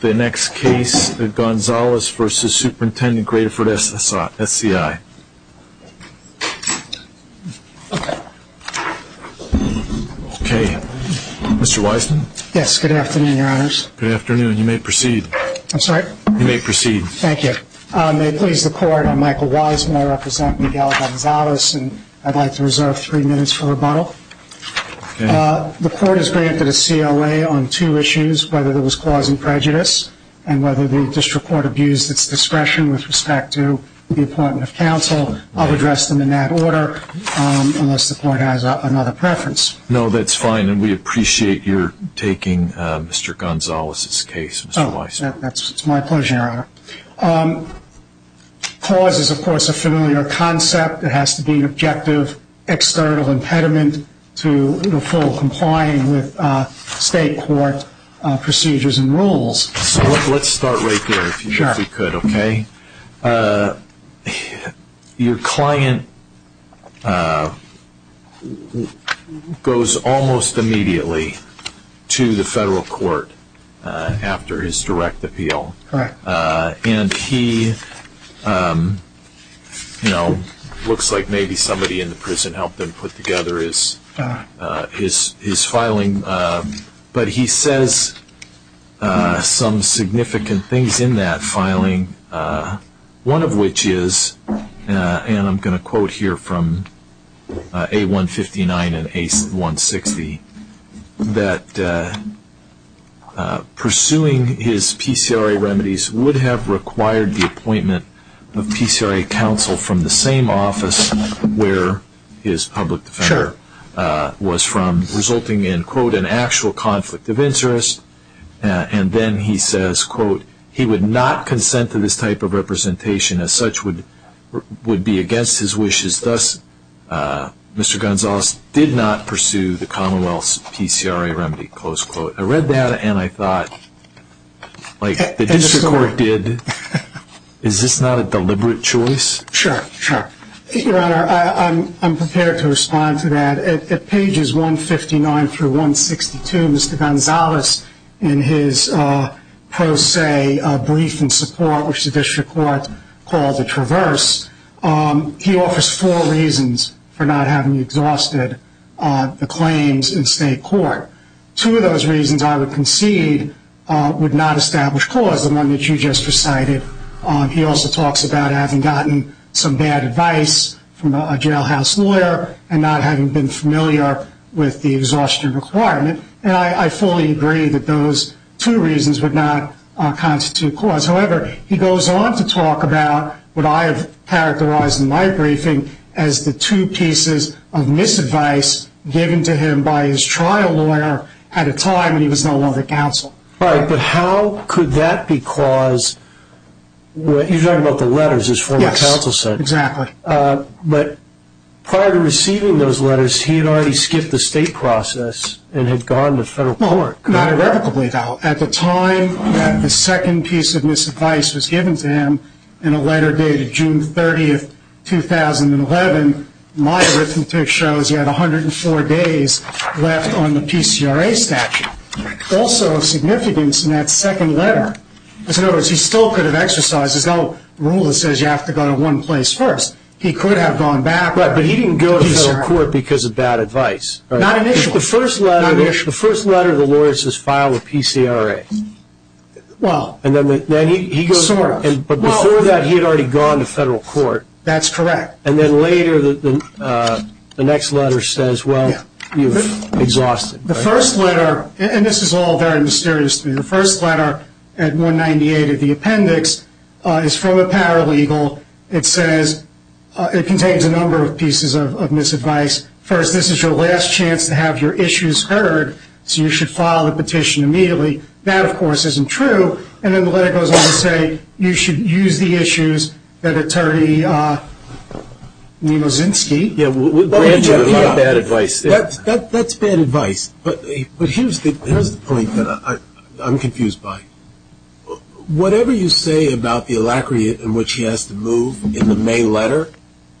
The next case, Gonzales v. Superintendent Graterford SCI. Okay, Mr. Wiseman? Yes, good afternoon, your honors. Good afternoon, you may proceed. I'm sorry? You may proceed. Thank you. May it please the court, I'm Michael Wiseman, I represent Miguel Gonzales, and I'd like to reserve three minutes for rebuttal. The court has granted a CLA on two issues, whether there was cause and prejudice, and whether the district court abused its discretion with respect to the appointment of counsel. I'll address them in that order, unless the court has another preference. No, that's fine, and we appreciate your taking Mr. Gonzales' case, Mr. Wiseman. Cause is, of course, a familiar concept. It has to be an objective, external impediment to the full complying with state court procedures and rules. Let's start right there, if you could, okay? Your client goes almost immediately to the federal court after his direct appeal. Correct. And he, you know, looks like maybe somebody in the prison helped him put together his filing. But he says some significant things in that filing, one of which is, and I'm going to quote here from A159 and A160, that pursuing his PCRA remedies would have required the appointment of PCRA counsel from the same office where his public defender was from, resulting in, quote, an actual conflict of interest. And then he says, quote, he would not consent to this type of representation, as such would be against his wishes. Thus, Mr. Gonzales did not pursue the Commonwealth's PCRA remedy, close quote. I read that, and I thought, like the district court did, is this not a deliberate choice? Sure, sure. Your Honor, I'm prepared to respond to that. At pages 159 through 162, Mr. Gonzales, in his pro se brief in support, which the district court called a traverse, he offers four reasons for not having exhausted the claims in state court. Two of those reasons, I would concede, would not establish clause, the one that you just recited. He also talks about having gotten some bad advice from a jailhouse lawyer and not having been familiar with the exhaustion requirement. And I fully agree that those two reasons would not constitute clause. However, he goes on to talk about what I have characterized in my briefing as the two pieces of misadvice given to him by his trial lawyer at a time when he was no longer counsel. Right, but how could that be clause? You're talking about the letters his former counsel sent. Yes, exactly. But prior to receiving those letters, he had already skipped the state process and had gone to federal court. Not irrevocably, though. At the time that the second piece of misadvice was given to him in a letter dated June 30, 2011, my arithmetic shows he had 104 days left on the PCRA statute. Also of significance in that second letter is, in other words, he still could have exercised. There's no rule that says you have to go to one place first. He could have gone back. Right, but he didn't go to federal court because of bad advice. Not initially. The first letter of the lawyer says file a PCRA. Well, sort of. But before that, he had already gone to federal court. That's correct. And then later, the next letter says, well, you've exhausted. The first letter, and this is all very mysterious to me, the first letter at 198 of the appendix is from a paralegal. It says it contains a number of pieces of misadvice. First, this is your last chance to have your issues heard, so you should file a petition immediately. That, of course, isn't true. And then the letter goes on to say you should use the issues that Attorney Nemozinsky. That's bad advice. But here's the point that I'm confused by. Whatever you say about the alacrity in which he has to move in the main letter,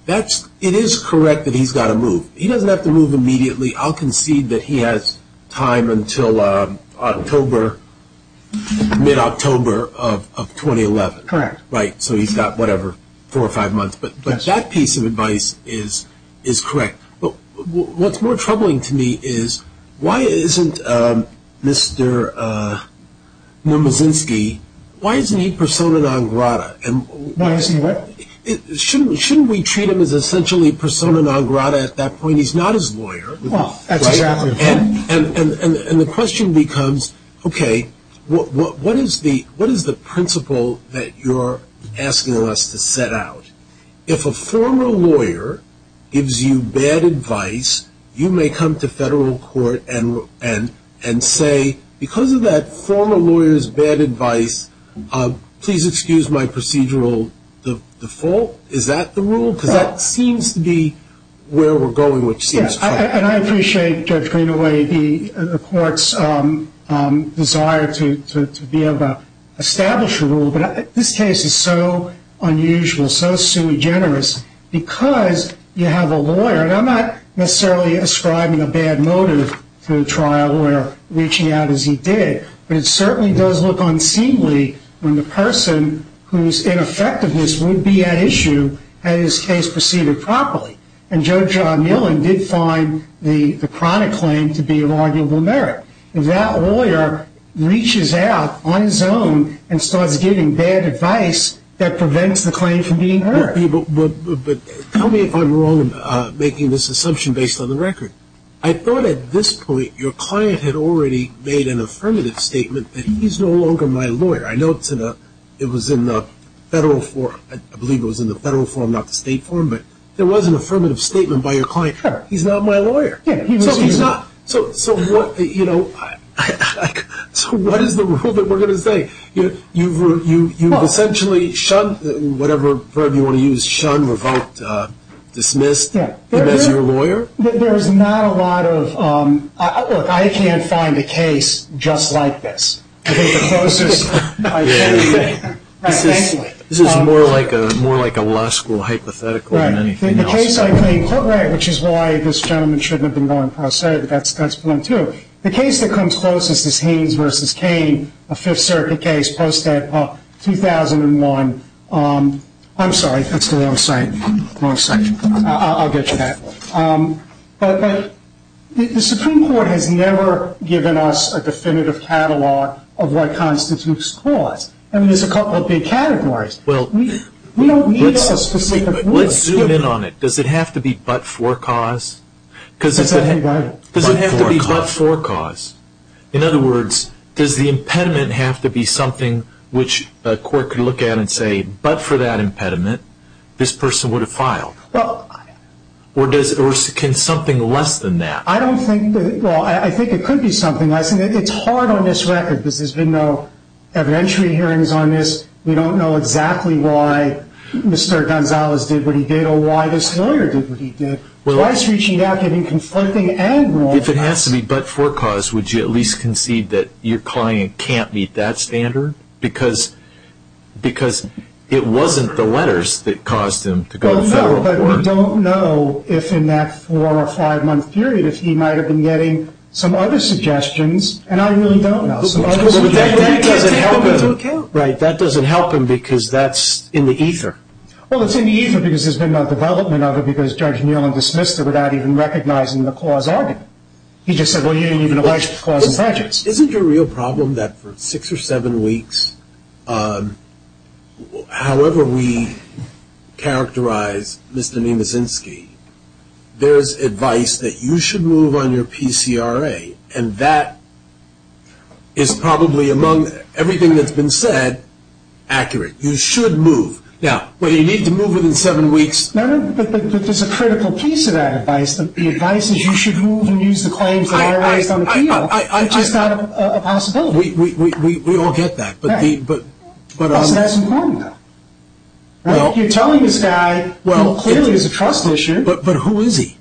it is correct that he's got to move. He doesn't have to move immediately. I'll concede that he has time until October, mid-October of 2011. Correct. Right, so he's got whatever, four or five months. But that piece of advice is correct. But what's more troubling to me is why isn't Mr. Nemozinsky, why isn't he persona non grata? Why isn't what? Shouldn't we treat him as essentially persona non grata at that point? He's not his lawyer. Well, that's exactly right. And the question becomes, okay, what is the principle that you're asking us to set out? If a former lawyer gives you bad advice, you may come to federal court and say, because of that former lawyer's bad advice, please excuse my procedural default. Is that the rule? Because that seems to be where we're going, which seems funny. And I appreciate, Judge Greenaway, the court's desire to be able to establish a rule. But this case is so unusual, so sui generis, because you have a lawyer. And I'm not necessarily ascribing a bad motive to a trial lawyer reaching out as he did, but it certainly does look unseemly when the person whose ineffectiveness would be at issue had his case proceeded properly. And Judge John Millen did find the chronic claim to be of arguable merit. If that lawyer reaches out on his own and starts giving bad advice, that prevents the claim from being heard. But tell me if I'm wrong in making this assumption based on the record. I thought at this point your client had already made an affirmative statement that he's no longer my lawyer. I know it was in the federal form. I believe it was in the federal form, not the state form. But there was an affirmative statement by your client, he's not my lawyer. So what is the rule that we're going to say? You've essentially shunned, whatever verb you want to use, shunned, revoked, dismissed him as your lawyer? There's not a lot of – look, I can't find a case just like this. This is more like a law school hypothetical than anything else. The case I think, which is why this gentleman shouldn't have been going pro se, that's blunt, too. The case that comes closest is Haynes v. Cain, a Fifth Circuit case posted 2001. I'm sorry, that's the wrong section. I'll get to that. But the Supreme Court has never given us a definitive catalog of what constitutes cause. I mean, there's a couple of big categories. We don't need a specific rule. Let's zoom in on it. Does it have to be but for cause? Does it have to be but for cause? In other words, does the impediment have to be something which a court could look at and say, but for that impediment, this person would have filed? Or can something less than that? I don't think – well, I think it could be something less. It's hard on this record because there's been no evidentiary hearings on this. We don't know exactly why Mr. Gonzalez did what he did or why this lawyer did what he did. Twice reaching out can be conflicting and wrong. If it has to be but for cause, would you at least concede that your client can't meet that standard? Because it wasn't the letters that caused him to go to federal court. No, but we don't know if in that four- or five-month period if he might have been getting some other suggestions, and I really don't know. But that doesn't help him. Right. That doesn't help him because that's in the ether. Well, it's in the ether because there's been no development of it because Judge Nealon dismissed it without even recognizing the cause argument. He just said, well, you didn't even allege the cause of prejudice. Isn't it a real problem that for six or seven weeks, however we characterize Mr. Nemezinski, there's advice that you should move on your PCRA, and that is probably, among everything that's been said, accurate. You should move. Now, whether you need to move within seven weeks. No, no, but there's a critical piece of that advice. The advice is you should move and use the claims that I raised on the appeal. It's just not a possibility. We all get that. That's important, though. You're telling this guy who clearly is a trust issue. But who is he?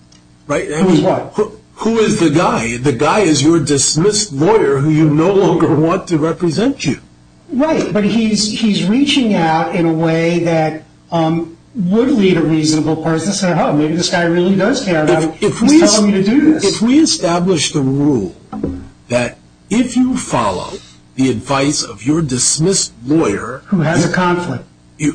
Who is what? Who is the guy? The guy is your dismissed lawyer who you no longer want to represent you. Right, but he's reaching out in a way that would lead a reasonable person to say, oh, maybe this guy really does care about it. He's telling me to do this. If we establish the rule that if you follow the advice of your dismissed lawyer. Who has a conflict. Who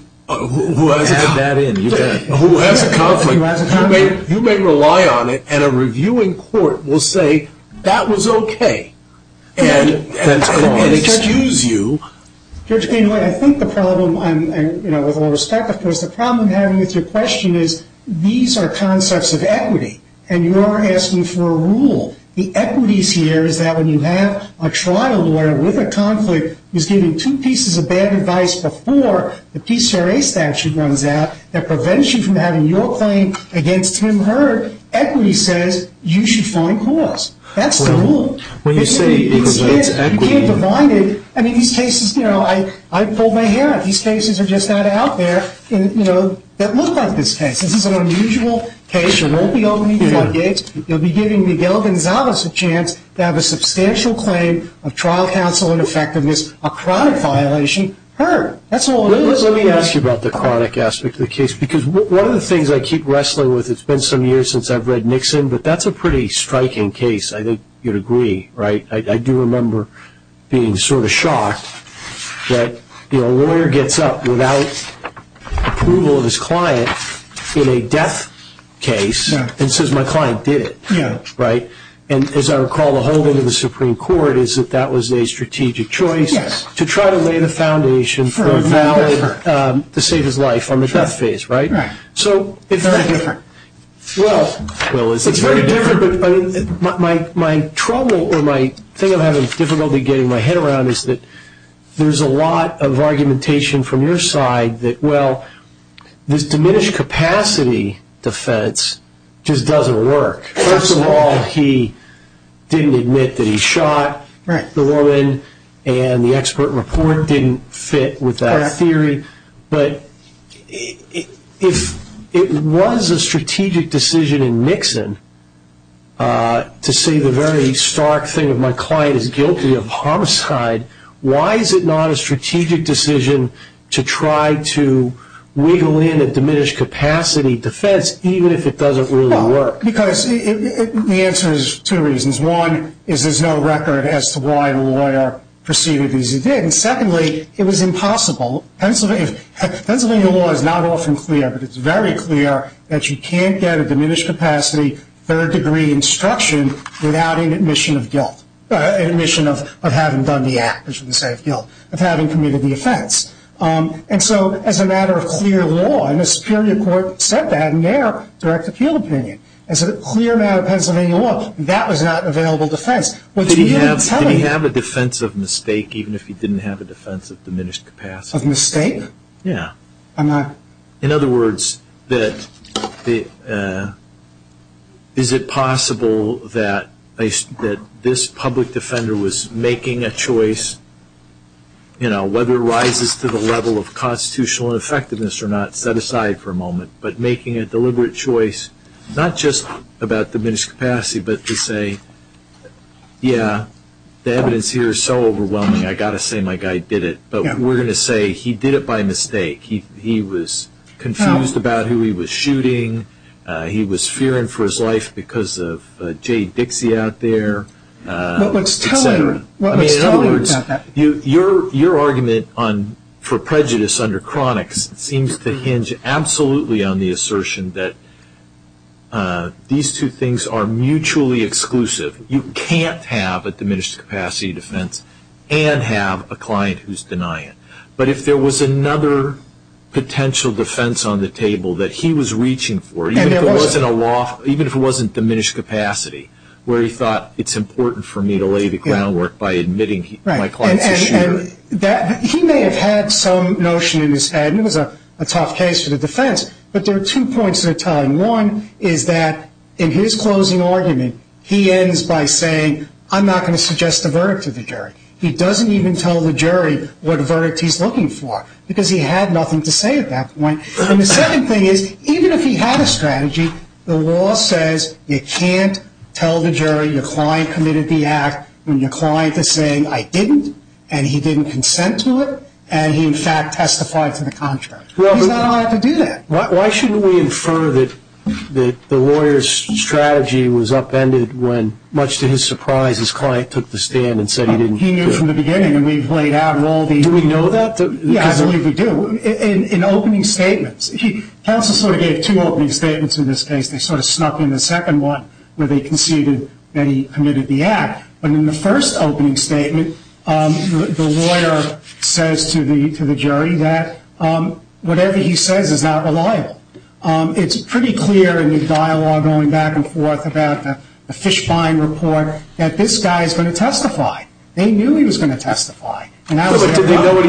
has a conflict. Add that in. Who has a conflict. You may rely on it, and a reviewing court will say that was okay and excuse you. I think the problem with all respect, of course, the problem I'm having with your question is these are concepts of equity, and you are asking for a rule. The equities here is that when you have a trial lawyer with a conflict who's given two pieces of bad advice before the PCRA statute runs out that prevents you from having your claim against him heard, equity says you should find cause. That's the rule. When you say it prevents equity. You can't divide it. I mean, these cases, you know, I pulled my hair out. These cases are just not out there, you know, that look like this case. This is an unusual case. You won't be opening floodgates. You'll be giving Miguel Gonzalez a chance to have a substantial claim of trial counsel and effectiveness, a chronic violation heard. That's all it is. Let me ask you about the chronic aspect of the case because one of the things I keep wrestling with, it's been some years since I've read Nixon, but that's a pretty striking case. I think you'd agree, right? I do remember being sort of shocked that, you know, in a death case, it says my client did it, right? And as I recall, the holding of the Supreme Court is that that was a strategic choice to try to lay the foundation for a valid to save his life on the death phase, right? Right. So it's very different. Well, it's very different, but my trouble or my thing I'm having difficulty getting my head around is that there's a lot of argumentation from your side that, well, this diminished capacity defense just doesn't work. First of all, he didn't admit that he shot the woman, and the expert report didn't fit with that theory. But if it was a strategic decision in Nixon to say the very stark thing of my client is guilty of homicide, why is it not a strategic decision to try to wiggle in a diminished capacity defense even if it doesn't really work? Because the answer is two reasons. One is there's no record as to why the lawyer proceeded as he did. And secondly, it was impossible. Pennsylvania law is not often clear, but it's very clear that you can't get a diminished capacity third degree instruction without an admission of guilt, an admission of having done the act, which would say guilt, of having committed the offense. And so as a matter of clear law, and the superior court said that in their direct appeal opinion, as a clear matter of Pennsylvania law, that was not an available defense. Did he have a defense of mistake even if he didn't have a defense of diminished capacity? Of mistake? Yeah. In other words, is it possible that this public defender was making a choice, whether it rises to the level of constitutional effectiveness or not, set aside for a moment, but making a deliberate choice not just about diminished capacity but to say, yeah, the evidence here is so overwhelming, I've got to say my guy did it. But we're going to say he did it by mistake. He was confused about who he was shooting. He was fearing for his life because of Jay Dixie out there, et cetera. What was telling him? I mean, in other words, your argument for prejudice under chronics seems to hinge absolutely on the assertion that these two things are mutually exclusive. You can't have a diminished capacity defense and have a client who's denying it. But if there was another potential defense on the table that he was reaching for, even if it wasn't diminished capacity, where he thought it's important for me to lay the groundwork by admitting my client's a shooter. He may have had some notion in his head, and it was a tough case for the defense, but there are two points they're tying. One is that in his closing argument, he ends by saying, I'm not going to suggest a verdict to the jury. He doesn't even tell the jury what verdict he's looking for because he had nothing to say at that point. And the second thing is, even if he had a strategy, the law says you can't tell the jury your client committed the act when your client is saying, I didn't, and he didn't consent to it, and he, in fact, testified to the contrary. He's not allowed to do that. Why shouldn't we infer that the lawyer's strategy was upended when, much to his surprise, his client took the stand and said he didn't do it? He knew from the beginning, and we've laid out in all these – Do we know that? Yeah, I believe we do. In opening statements, counsel sort of gave two opening statements in this case. They sort of snuck in the second one where they conceded that he committed the act. But in the first opening statement, the lawyer says to the jury that whatever he says is not reliable. It's pretty clear in the dialogue going back and forth about the Fishbein report that this guy is going to testify. They knew he was going to testify. Did he know what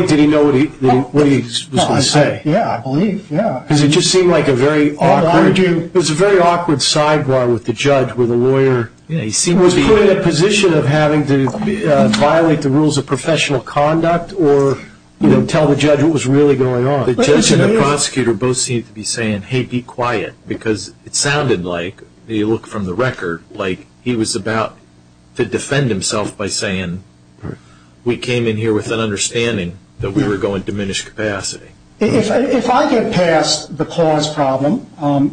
he was going to say? Yeah, I believe, yeah. Because it just seemed like a very awkward sidebar with the judge where the lawyer was put in a position of having to violate the rules of professional conduct or tell the judge what was really going on. The judge and the prosecutor both seem to be saying, hey, be quiet, because it sounded like, when you look from the record, like he was about to defend himself by saying, we came in here with an understanding that we were going to diminish capacity. If I get past the clause problem,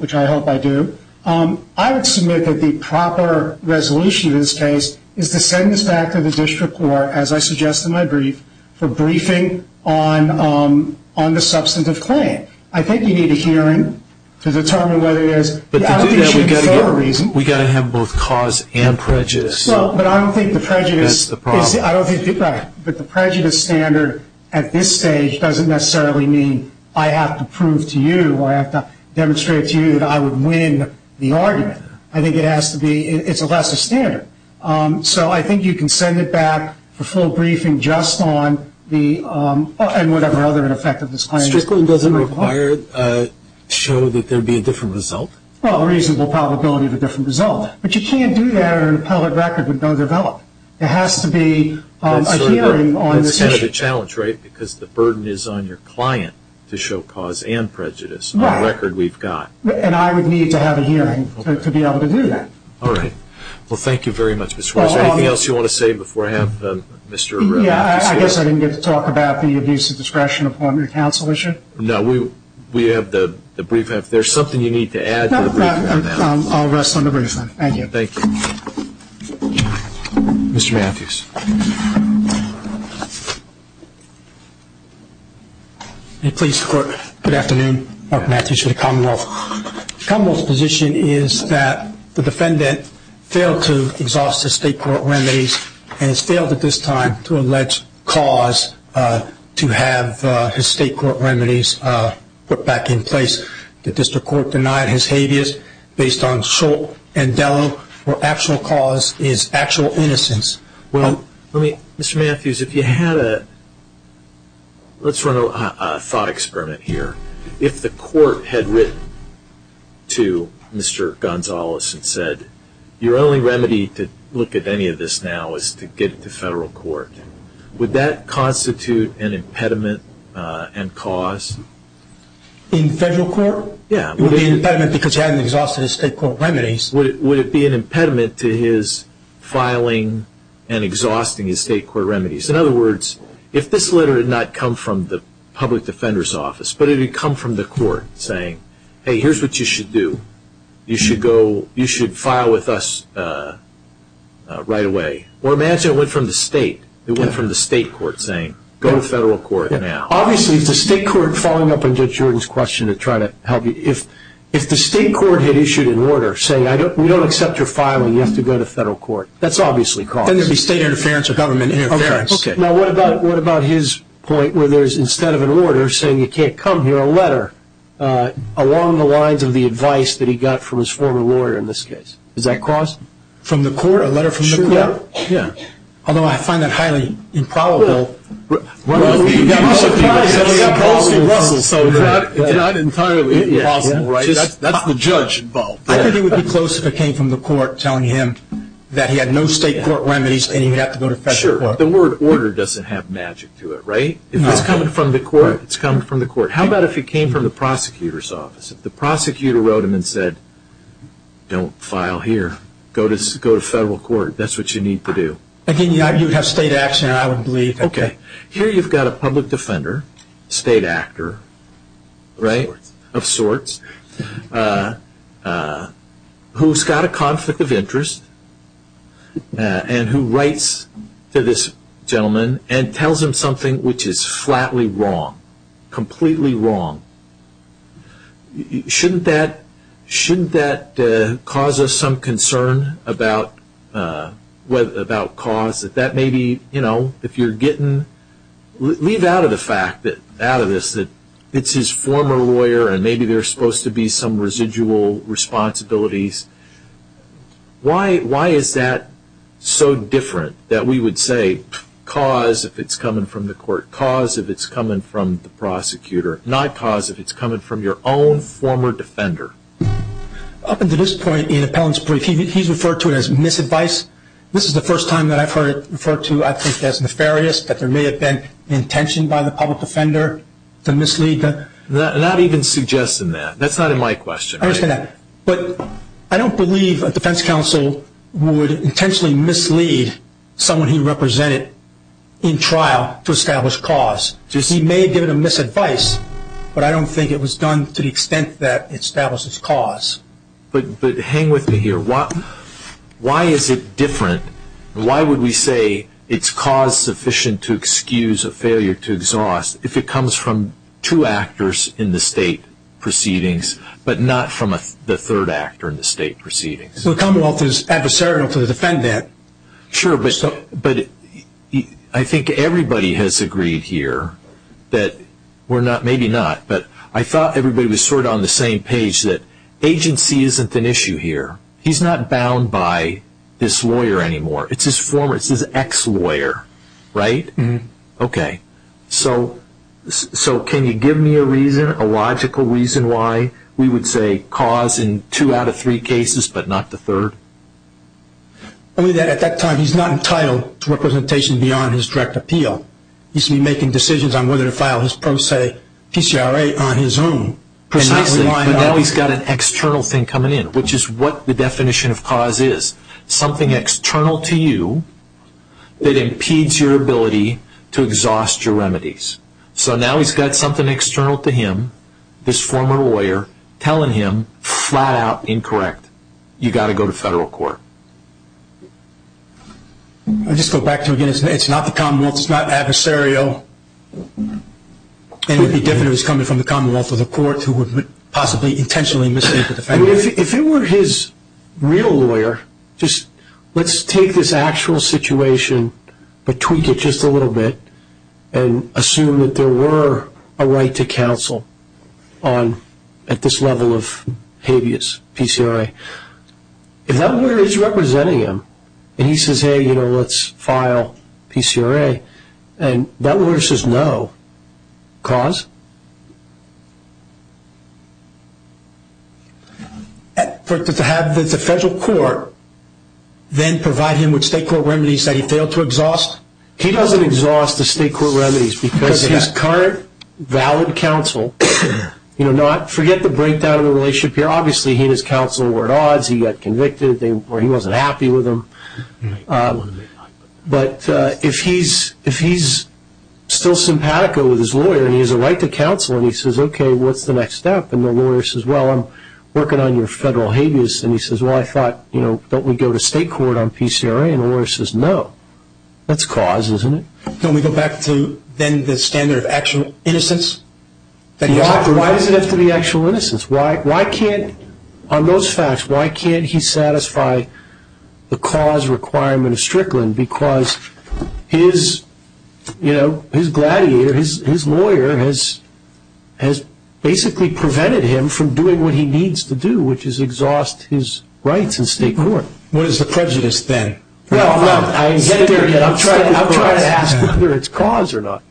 which I hope I do, I would submit that the proper resolution in this case is to send this back to the district court, as I suggest in my brief, for briefing on the substantive claim. I think you need a hearing to determine whether it is. But to do that, we've got to have both cause and prejudice. But I don't think the prejudice standard at this stage doesn't necessarily mean I have to prove to you or I have to demonstrate to you that I would win the argument. I think it has to be, it's a lesser standard. So I think you can send it back for full briefing just on the, and whatever other effect of this claim. District court doesn't require, show that there would be a different result? Well, a reasonable probability of a different result. But you can't do that on an appellate record with no development. There has to be a hearing on this issue. It's a challenge, right? Because the burden is on your client to show cause and prejudice on the record we've got. And I would need to have a hearing to be able to do that. All right. Well, thank you very much, Mr. Weiser. Is there anything else you want to say before I have Mr. Arreola? Yeah, I guess I didn't get to talk about the abuse of discretion upon your counsel issue. No, we have the brief. If there's something you need to add to the brief, let me know. I'll rest on the brief then. Thank you. Thank you. Mr. Matthews. Please, court, good afternoon. Mark Matthews for the Commonwealth. The Commonwealth's position is that the defendant failed to exhaust his state court remedies and has failed at this time to allege cause to have his state court remedies put back in place. The district court denied his habeas based on Shultz and Dello, where actual cause is actual innocence. Well, Mr. Matthews, if you had a – let's run a thought experiment here. If the court had written to Mr. Gonzalez and said, your only remedy to look at any of this now is to get it to federal court, would that constitute an impediment and cause? In federal court? Yeah. Would it be an impediment because he hadn't exhausted his state court remedies? Would it be an impediment to his filing and exhausting his state court remedies? In other words, if this letter had not come from the public defender's office, but it had come from the court saying, hey, here's what you should do. You should go – you should file with us right away. Or imagine it went from the state. It went from the state court saying, go to federal court now. Obviously, it's the state court following up on Judge Jordan's question to try to help you. If the state court had issued an order saying, we don't accept your filing, you have to go to federal court, that's obviously cause. Then there would be state interference or government interference. Okay. Now, what about his point where there's, instead of an order saying you can't come here, a letter along the lines of the advice that he got from his former lawyer in this case? Is that cause? From the court? A letter from the court? Yeah. Although I find that highly improbable. Well, he was surprised that it was impossible. It's not entirely impossible, right? That's the judge involved. I think it would be close if it came from the court telling him that he had no state court remedies and he would have to go to federal court. Sure, but the word order doesn't have magic to it, right? If it's coming from the court, it's coming from the court. How about if it came from the prosecutor's office? If the prosecutor wrote him and said, don't file here, go to federal court, that's what you need to do. You would have state action, I would believe. Okay. Here you've got a public defender, state actor, right, of sorts, who's got a conflict of interest and who writes to this gentleman and tells him something which is flatly wrong, completely wrong. Shouldn't that cause us some concern about cause? If that may be, you know, if you're getting... Leave out of the fact, out of this, that it's his former lawyer and maybe there's supposed to be some residual responsibilities. Why is that so different that we would say cause if it's coming from the court, not cause if it's coming from the prosecutor, not cause if it's coming from your own former defender? Up until this point in Appellant's brief, he's referred to it as misadvice. This is the first time that I've heard it referred to, I think, as nefarious, that there may have been intention by the public defender to mislead. I'm not even suggesting that. That's not in my question. I understand that. But I don't believe a defense counsel would intentionally mislead someone he represented in trial to establish cause. He may have given a misadvice, but I don't think it was done to the extent that it establishes cause. But hang with me here. Why is it different? Why would we say it's cause sufficient to excuse a failure to exhaust if it comes from two actors in the state proceedings but not from the third actor in the state proceedings? The Commonwealth is adversarial to defend that. Sure, but I think everybody has agreed here that we're not, maybe not, but I thought everybody was sort of on the same page that agency isn't an issue here. He's not bound by this lawyer anymore. It's his former, it's his ex-lawyer, right? Okay. So can you give me a reason, a logical reason why we would say cause in two out of three cases but not the third? Only that at that time he's not entitled to representation beyond his direct appeal. He should be making decisions on whether to file his pro se PCRA on his own. Precisely, but now he's got an external thing coming in, which is what the definition of cause is. Something external to you that impedes your ability to exhaust your remedies. So now he's got something external to him, this former lawyer, telling him flat out incorrect. You've got to go to federal court. I'll just go back to it again. It's not the Commonwealth, it's not adversarial, and it would be different if it was coming from the Commonwealth or the court who would possibly intentionally mislead the defendant. If it were his real lawyer, let's take this actual situation but tweak it just a little bit and assume that there were a right to counsel at this level of habeas PCRA. If that lawyer is representing him and he says, hey, let's file PCRA, and that lawyer says no, cause? To have the federal court then provide him with state court remedies that he failed to exhaust? He doesn't exhaust the state court remedies because his current valid counsel, forget the breakdown of the relationship here, obviously he and his counsel were at odds, he got convicted, or he wasn't happy with them. But if he's still simpatico with his lawyer and he has a right to counsel and he says, okay, what's the next step, and the lawyer says, well, I'm working on your federal habeas, and he says, well, I thought, you know, don't we go to state court on PCRA? And the lawyer says, no, that's cause, isn't it? Can we go back to then the standard of actual innocence? Why does it have to be actual innocence? Why can't on those facts, why can't he satisfy the cause requirement of Strickland? Because his gladiator, his lawyer has basically prevented him from doing what he needs to do, which is exhaust his rights in state court. What is the prejudice then? Well, I'm getting there again. I'm trying to ask whether it's cause or not.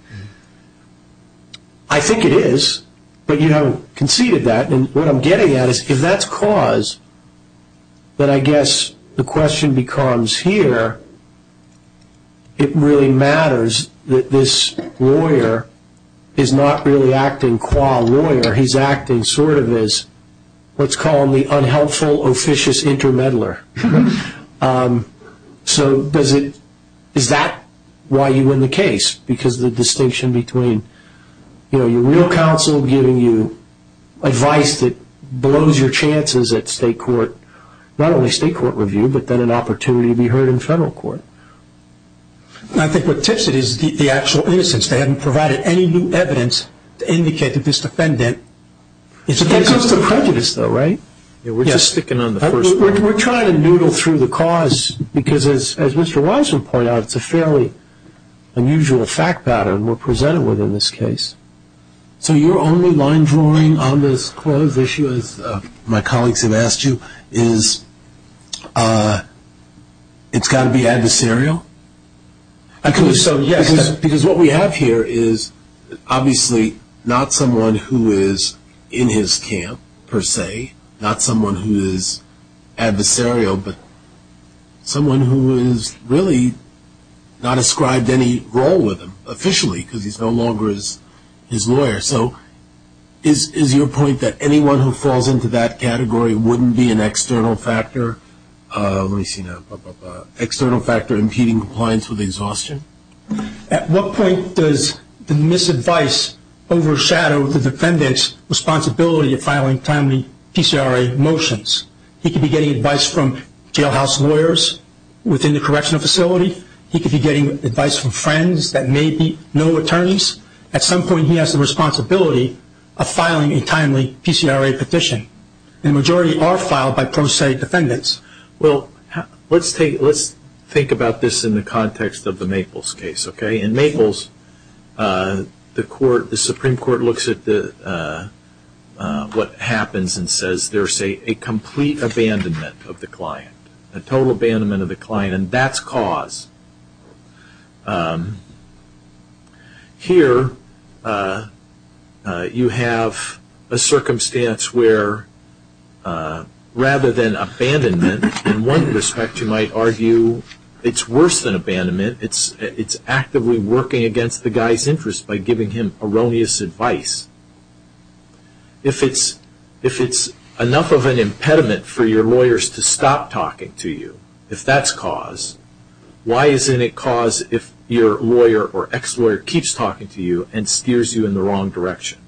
I think it is, but you haven't conceded that. And what I'm getting at is if that's cause, then I guess the question becomes here, it really matters that this lawyer is not really acting qua lawyer, he's acting sort of as what's called the unhelpful, officious intermeddler. So is that why you win the case? Because the distinction between, you know, your real counsel giving you advice that blows your chances at state court, not only state court review, but then an opportunity to be heard in federal court. I think what tips it is the actual innocence. They haven't provided any new evidence to indicate that this defendant is against you. That goes to prejudice though, right? Yeah, we're just sticking on the first one. We're trying to noodle through the cause because, as Mr. Wiseman pointed out, it's a fairly unusual fact pattern we're presented with in this case. So your only line drawing on this clause issue, as my colleagues have asked you, is it's got to be adversarial? Because what we have here is obviously not someone who is in his camp per se, not someone who is adversarial, but someone who has really not ascribed any role with him officially because he's no longer his lawyer. So is your point that anyone who falls into that category wouldn't be an external factor, let me see now, external factor impeding compliance with exhaustion? At what point does the misadvice overshadow the defendant's responsibility of filing timely PCRA motions? He could be getting advice from jailhouse lawyers within the correctional facility. He could be getting advice from friends that may be no attorneys. At some point he has the responsibility of filing a timely PCRA petition. The majority are filed by pro se defendants. Well, let's think about this in the context of the Maples case. In Maples, the Supreme Court looks at what happens and says there's a complete abandonment of the client, a total abandonment of the client, and that's cause. Here you have a circumstance where rather than abandonment, in one respect you might argue it's worse than abandonment. It's actively working against the guy's interest by giving him erroneous advice. If it's enough of an impediment for your lawyers to stop talking to you, if that's cause, why isn't it cause if your lawyer or ex-lawyer keeps talking to you and steers you in the wrong direction?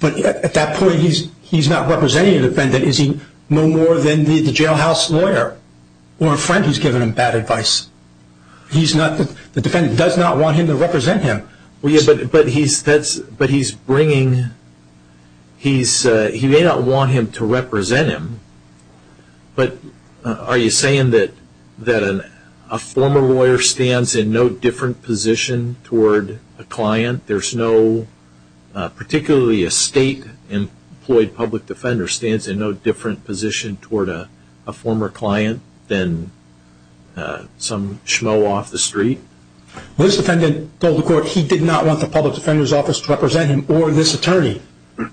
But at that point he's not representing a defendant. Is he no more than the jailhouse lawyer or a friend who's given him bad advice? The defendant does not want him to represent him. But he's bringing, he may not want him to represent him, but are you saying that a former lawyer stands in no different position toward a client? There's no, particularly a state-employed public defender, stands in no different position toward a former client than some schmo off the street? This defendant told the court he did not want the public defender's office to represent him or this attorney.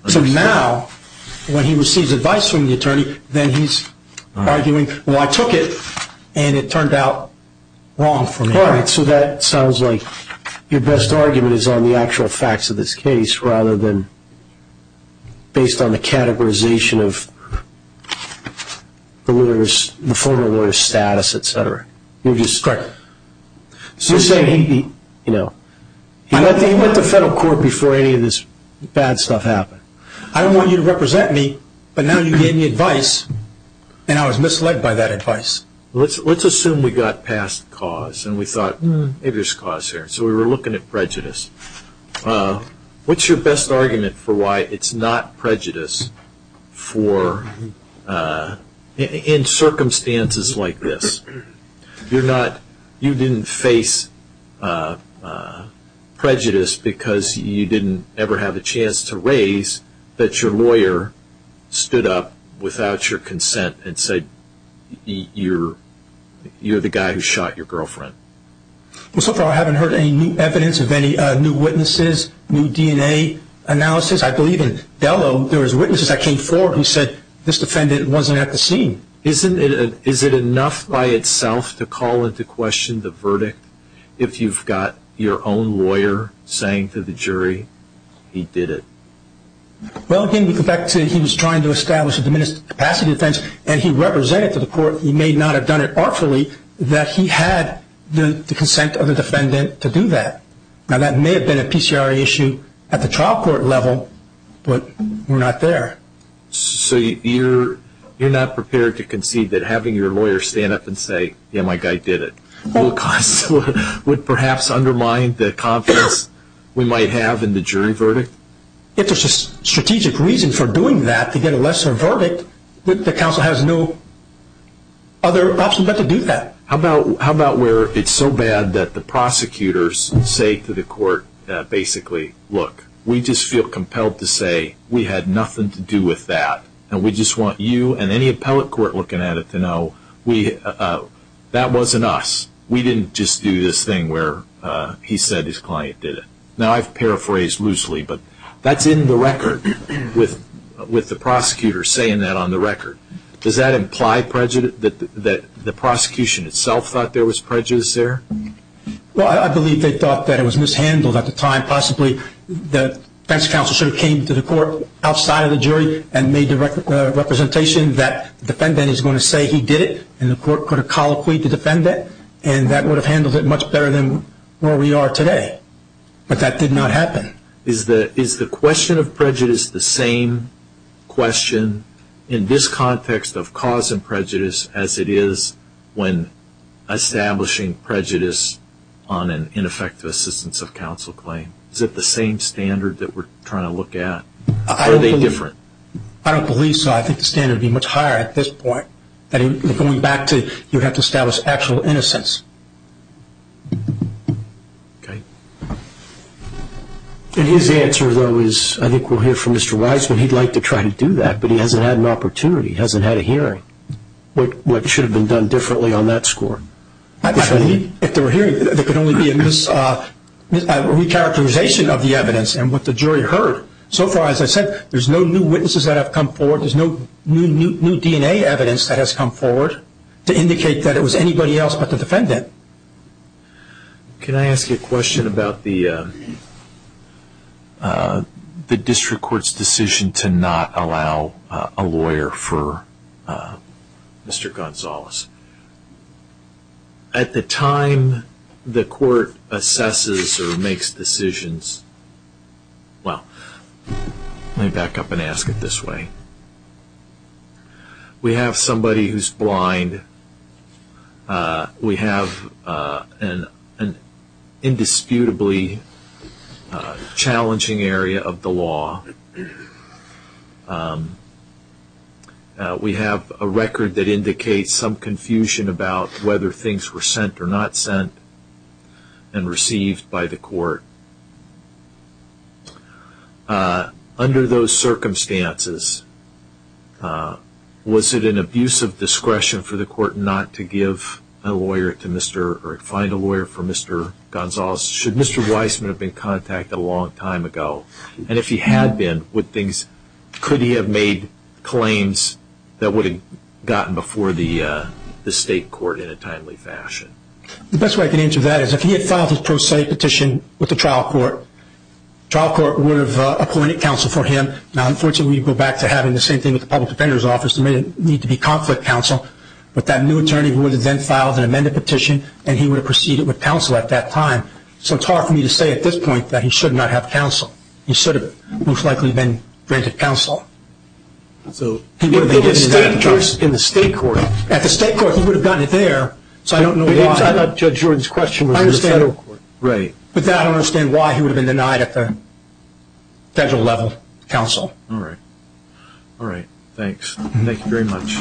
So now when he receives advice from the attorney, then he's arguing, well I took it and it turned out wrong for me. All right, so that sounds like your best argument is on the actual facts of this case rather than based on the categorization of the former lawyer's status, et cetera. Correct. So you're saying he, you know, he went to federal court before any of this bad stuff happened. I don't want you to represent me, but now you gave me advice and I was misled by that advice. Let's assume we got past cause and we thought, maybe there's cause here. So we were looking at prejudice. What's your best argument for why it's not prejudice for, in circumstances like this? You're not, you didn't face prejudice because you didn't ever have a chance to raise that your lawyer stood up without your consent and said you're the guy who shot your girlfriend. Well, so far I haven't heard any new evidence of any new witnesses, new DNA analysis. I believe in Delo there was witnesses that came forward who said this defendant wasn't at the scene. Isn't it, is it enough by itself to call into question the verdict if you've got your own lawyer saying to the jury he did it? Well, again, we go back to he was trying to establish a diminished capacity defense and he represented to the court, he may not have done it artfully, that he had the consent of the defendant to do that. Now, that may have been a PCRE issue at the trial court level, but we're not there. So, you're not prepared to concede that having your lawyer stand up and say, yeah, my guy did it, would perhaps undermine the confidence we might have in the jury verdict? If there's a strategic reason for doing that, to get a lesser verdict, the counsel has no other option but to do that. How about where it's so bad that the prosecutors say to the court, basically, look, we just feel compelled to say we had nothing to do with that and we just want you and any appellate court looking at it to know that wasn't us. We didn't just do this thing where he said his client did it. Now, I've paraphrased loosely, but that's in the record with the prosecutor saying that on the record. Does that imply that the prosecution itself thought there was prejudice there? Well, I believe they thought that it was mishandled at the time. Possibly the defense counsel sort of came to the court outside of the jury and made the representation that the defendant is going to say he did it and the court could have colloquied the defendant and that would have handled it much better than where we are today. But that did not happen. Is the question of prejudice the same question in this context of cause and prejudice as it is when establishing prejudice on an ineffective assistance of counsel claim? Is it the same standard that we're trying to look at? Are they different? I don't believe so. I think the standard would be much higher at this point. Going back to you have to establish actual innocence. Okay. And his answer, though, is I think we'll hear from Mr. Wiseman. He'd like to try to do that, but he hasn't had an opportunity, hasn't had a hearing. What should have been done differently on that score? If there were hearings, there could only be a mischaracterization of the evidence and what the jury heard. So far as I said, there's no new witnesses that have come forward. There's no new DNA evidence that has come forward to indicate that it was anybody else but the defendant. Can I ask a question about the district court's decision to not allow a lawyer for Mr. Gonzalez? At the time the court assesses or makes decisions, well, let me back up and ask it this way. We have somebody who's blind. We have an indisputably challenging area of the law. We have a record that indicates some confusion about whether things were sent or not sent and received by the court. Under those circumstances, was it an abuse of discretion for the court not to give a lawyer to Mr. or find a lawyer for Mr. Gonzalez? Should Mr. Wiseman have been contacted a long time ago? And if he had been, could he have made claims that would have gotten before the state court in a timely fashion? The best way I can answer that is if he had filed his pro se petition with the trial court, the trial court would have appointed counsel for him. Now, unfortunately, we go back to having the same thing with the public defender's office. There may need to be conflict counsel, but that new attorney would have then filed an amended petition and he would have proceeded with counsel at that time. So it's hard for me to say at this point that he should not have counsel. He should have most likely been granted counsel. So he would have been given that choice in the state court. At the state court, he would have gotten it there, so I don't know why. I don't understand why he would have been denied at the federal level counsel. All right. All right. Thanks. Thank you very much.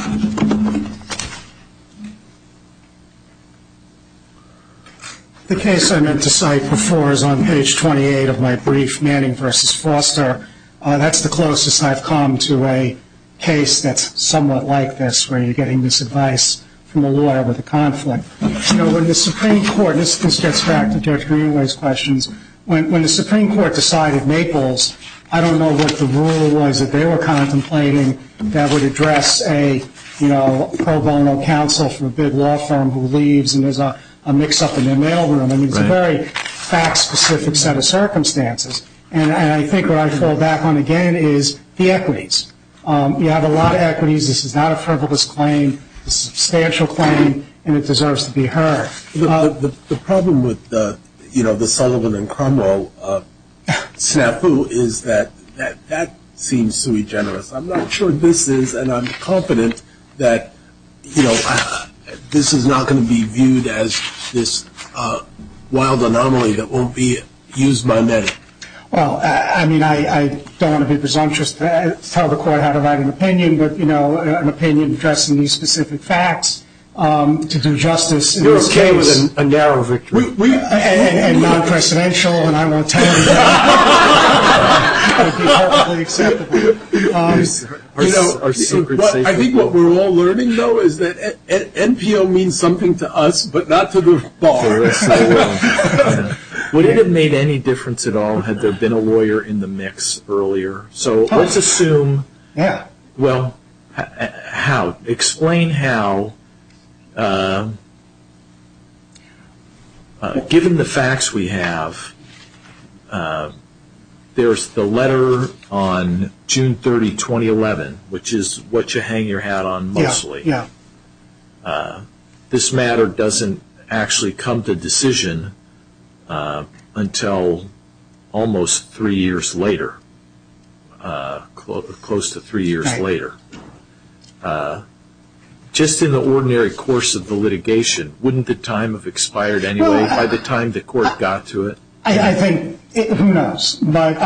The case I meant to cite before is on page 28 of my brief, Manning v. Foster. That's the closest I've come to a case that's somewhat like this, where you're getting this advice from a lawyer with a conflict. You know, when the Supreme Court, and this gets back to Judge Greenway's questions, when the Supreme Court decided Maples, I don't know what the rule was that they were contemplating that would address a, you know, pro bono counsel from a big law firm who leaves and there's a mix-up in their mail room. I mean, it's a very fact-specific set of circumstances. And I think what I fall back on again is the equities. You have a lot of equities. This is not a frivolous claim. It's a substantial claim, and it deserves to be heard. The problem with, you know, the Sullivan and Cromwell snafu is that that seems sui generis. I'm not sure this is, and I'm confident that, you know, this is not going to be viewed as this wild anomaly that won't be used by many. Well, I mean, I don't want to be presumptuous to tell the court how to write an opinion, but, you know, an opinion addressing these specific facts to do justice in this case. You're okay with a narrow victory? And non-presidential, and I won't tell you that. That would be perfectly acceptable. You know, I think what we're all learning, though, is that NPO means something to us, but not to the bar. Would it have made any difference at all had there been a lawyer in the mix earlier? So let's assume. Yeah. Well, how? Explain how, given the facts we have, there's the letter on June 30, 2011, which is what you hang your hat on mostly. Yeah, yeah. This matter doesn't actually come to decision until almost three years later, close to three years later. Just in the ordinary course of the litigation, wouldn't the time have expired anyway by the time the court got to it? I think, who knows, but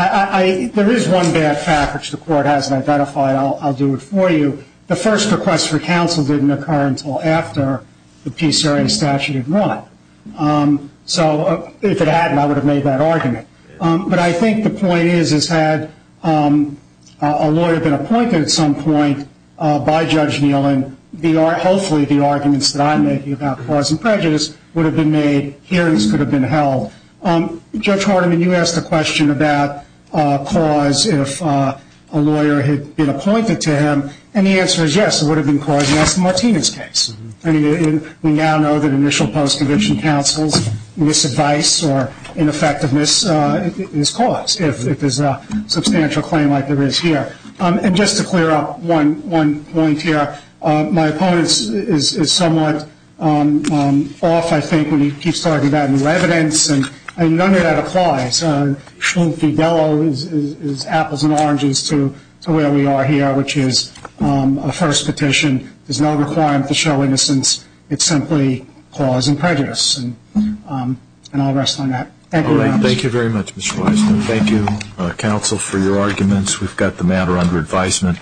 there is one bad fact which the court hasn't identified. I'll do it for you. The first request for counsel didn't occur until after the PCRA statute had run. So if it hadn't, I would have made that argument. But I think the point is, is had a lawyer been appointed at some point by Judge Nealon, hopefully the arguments that I'm making about cause and prejudice would have been made, hearings could have been held. Judge Hardiman, you asked a question about cause if a lawyer had been appointed to him, and the answer is yes, it would have been caused in Esther Martinez's case. I mean, we now know that initial post-conviction counsel's misadvice or ineffectiveness is cause, if there's a substantial claim like there is here. And just to clear up one point here, my opponent is somewhat off, I think, when he keeps talking about new evidence, and none of that applies. Schlinke-Bellow is apples and oranges to where we are here, which is a first petition. There's no requirement to show innocence. It's simply cause and prejudice, and I'll rest on that. Thank you very much. Thank you very much, Mr. Weisman. Thank you, counsel, for your arguments. We've got the matter under advisement.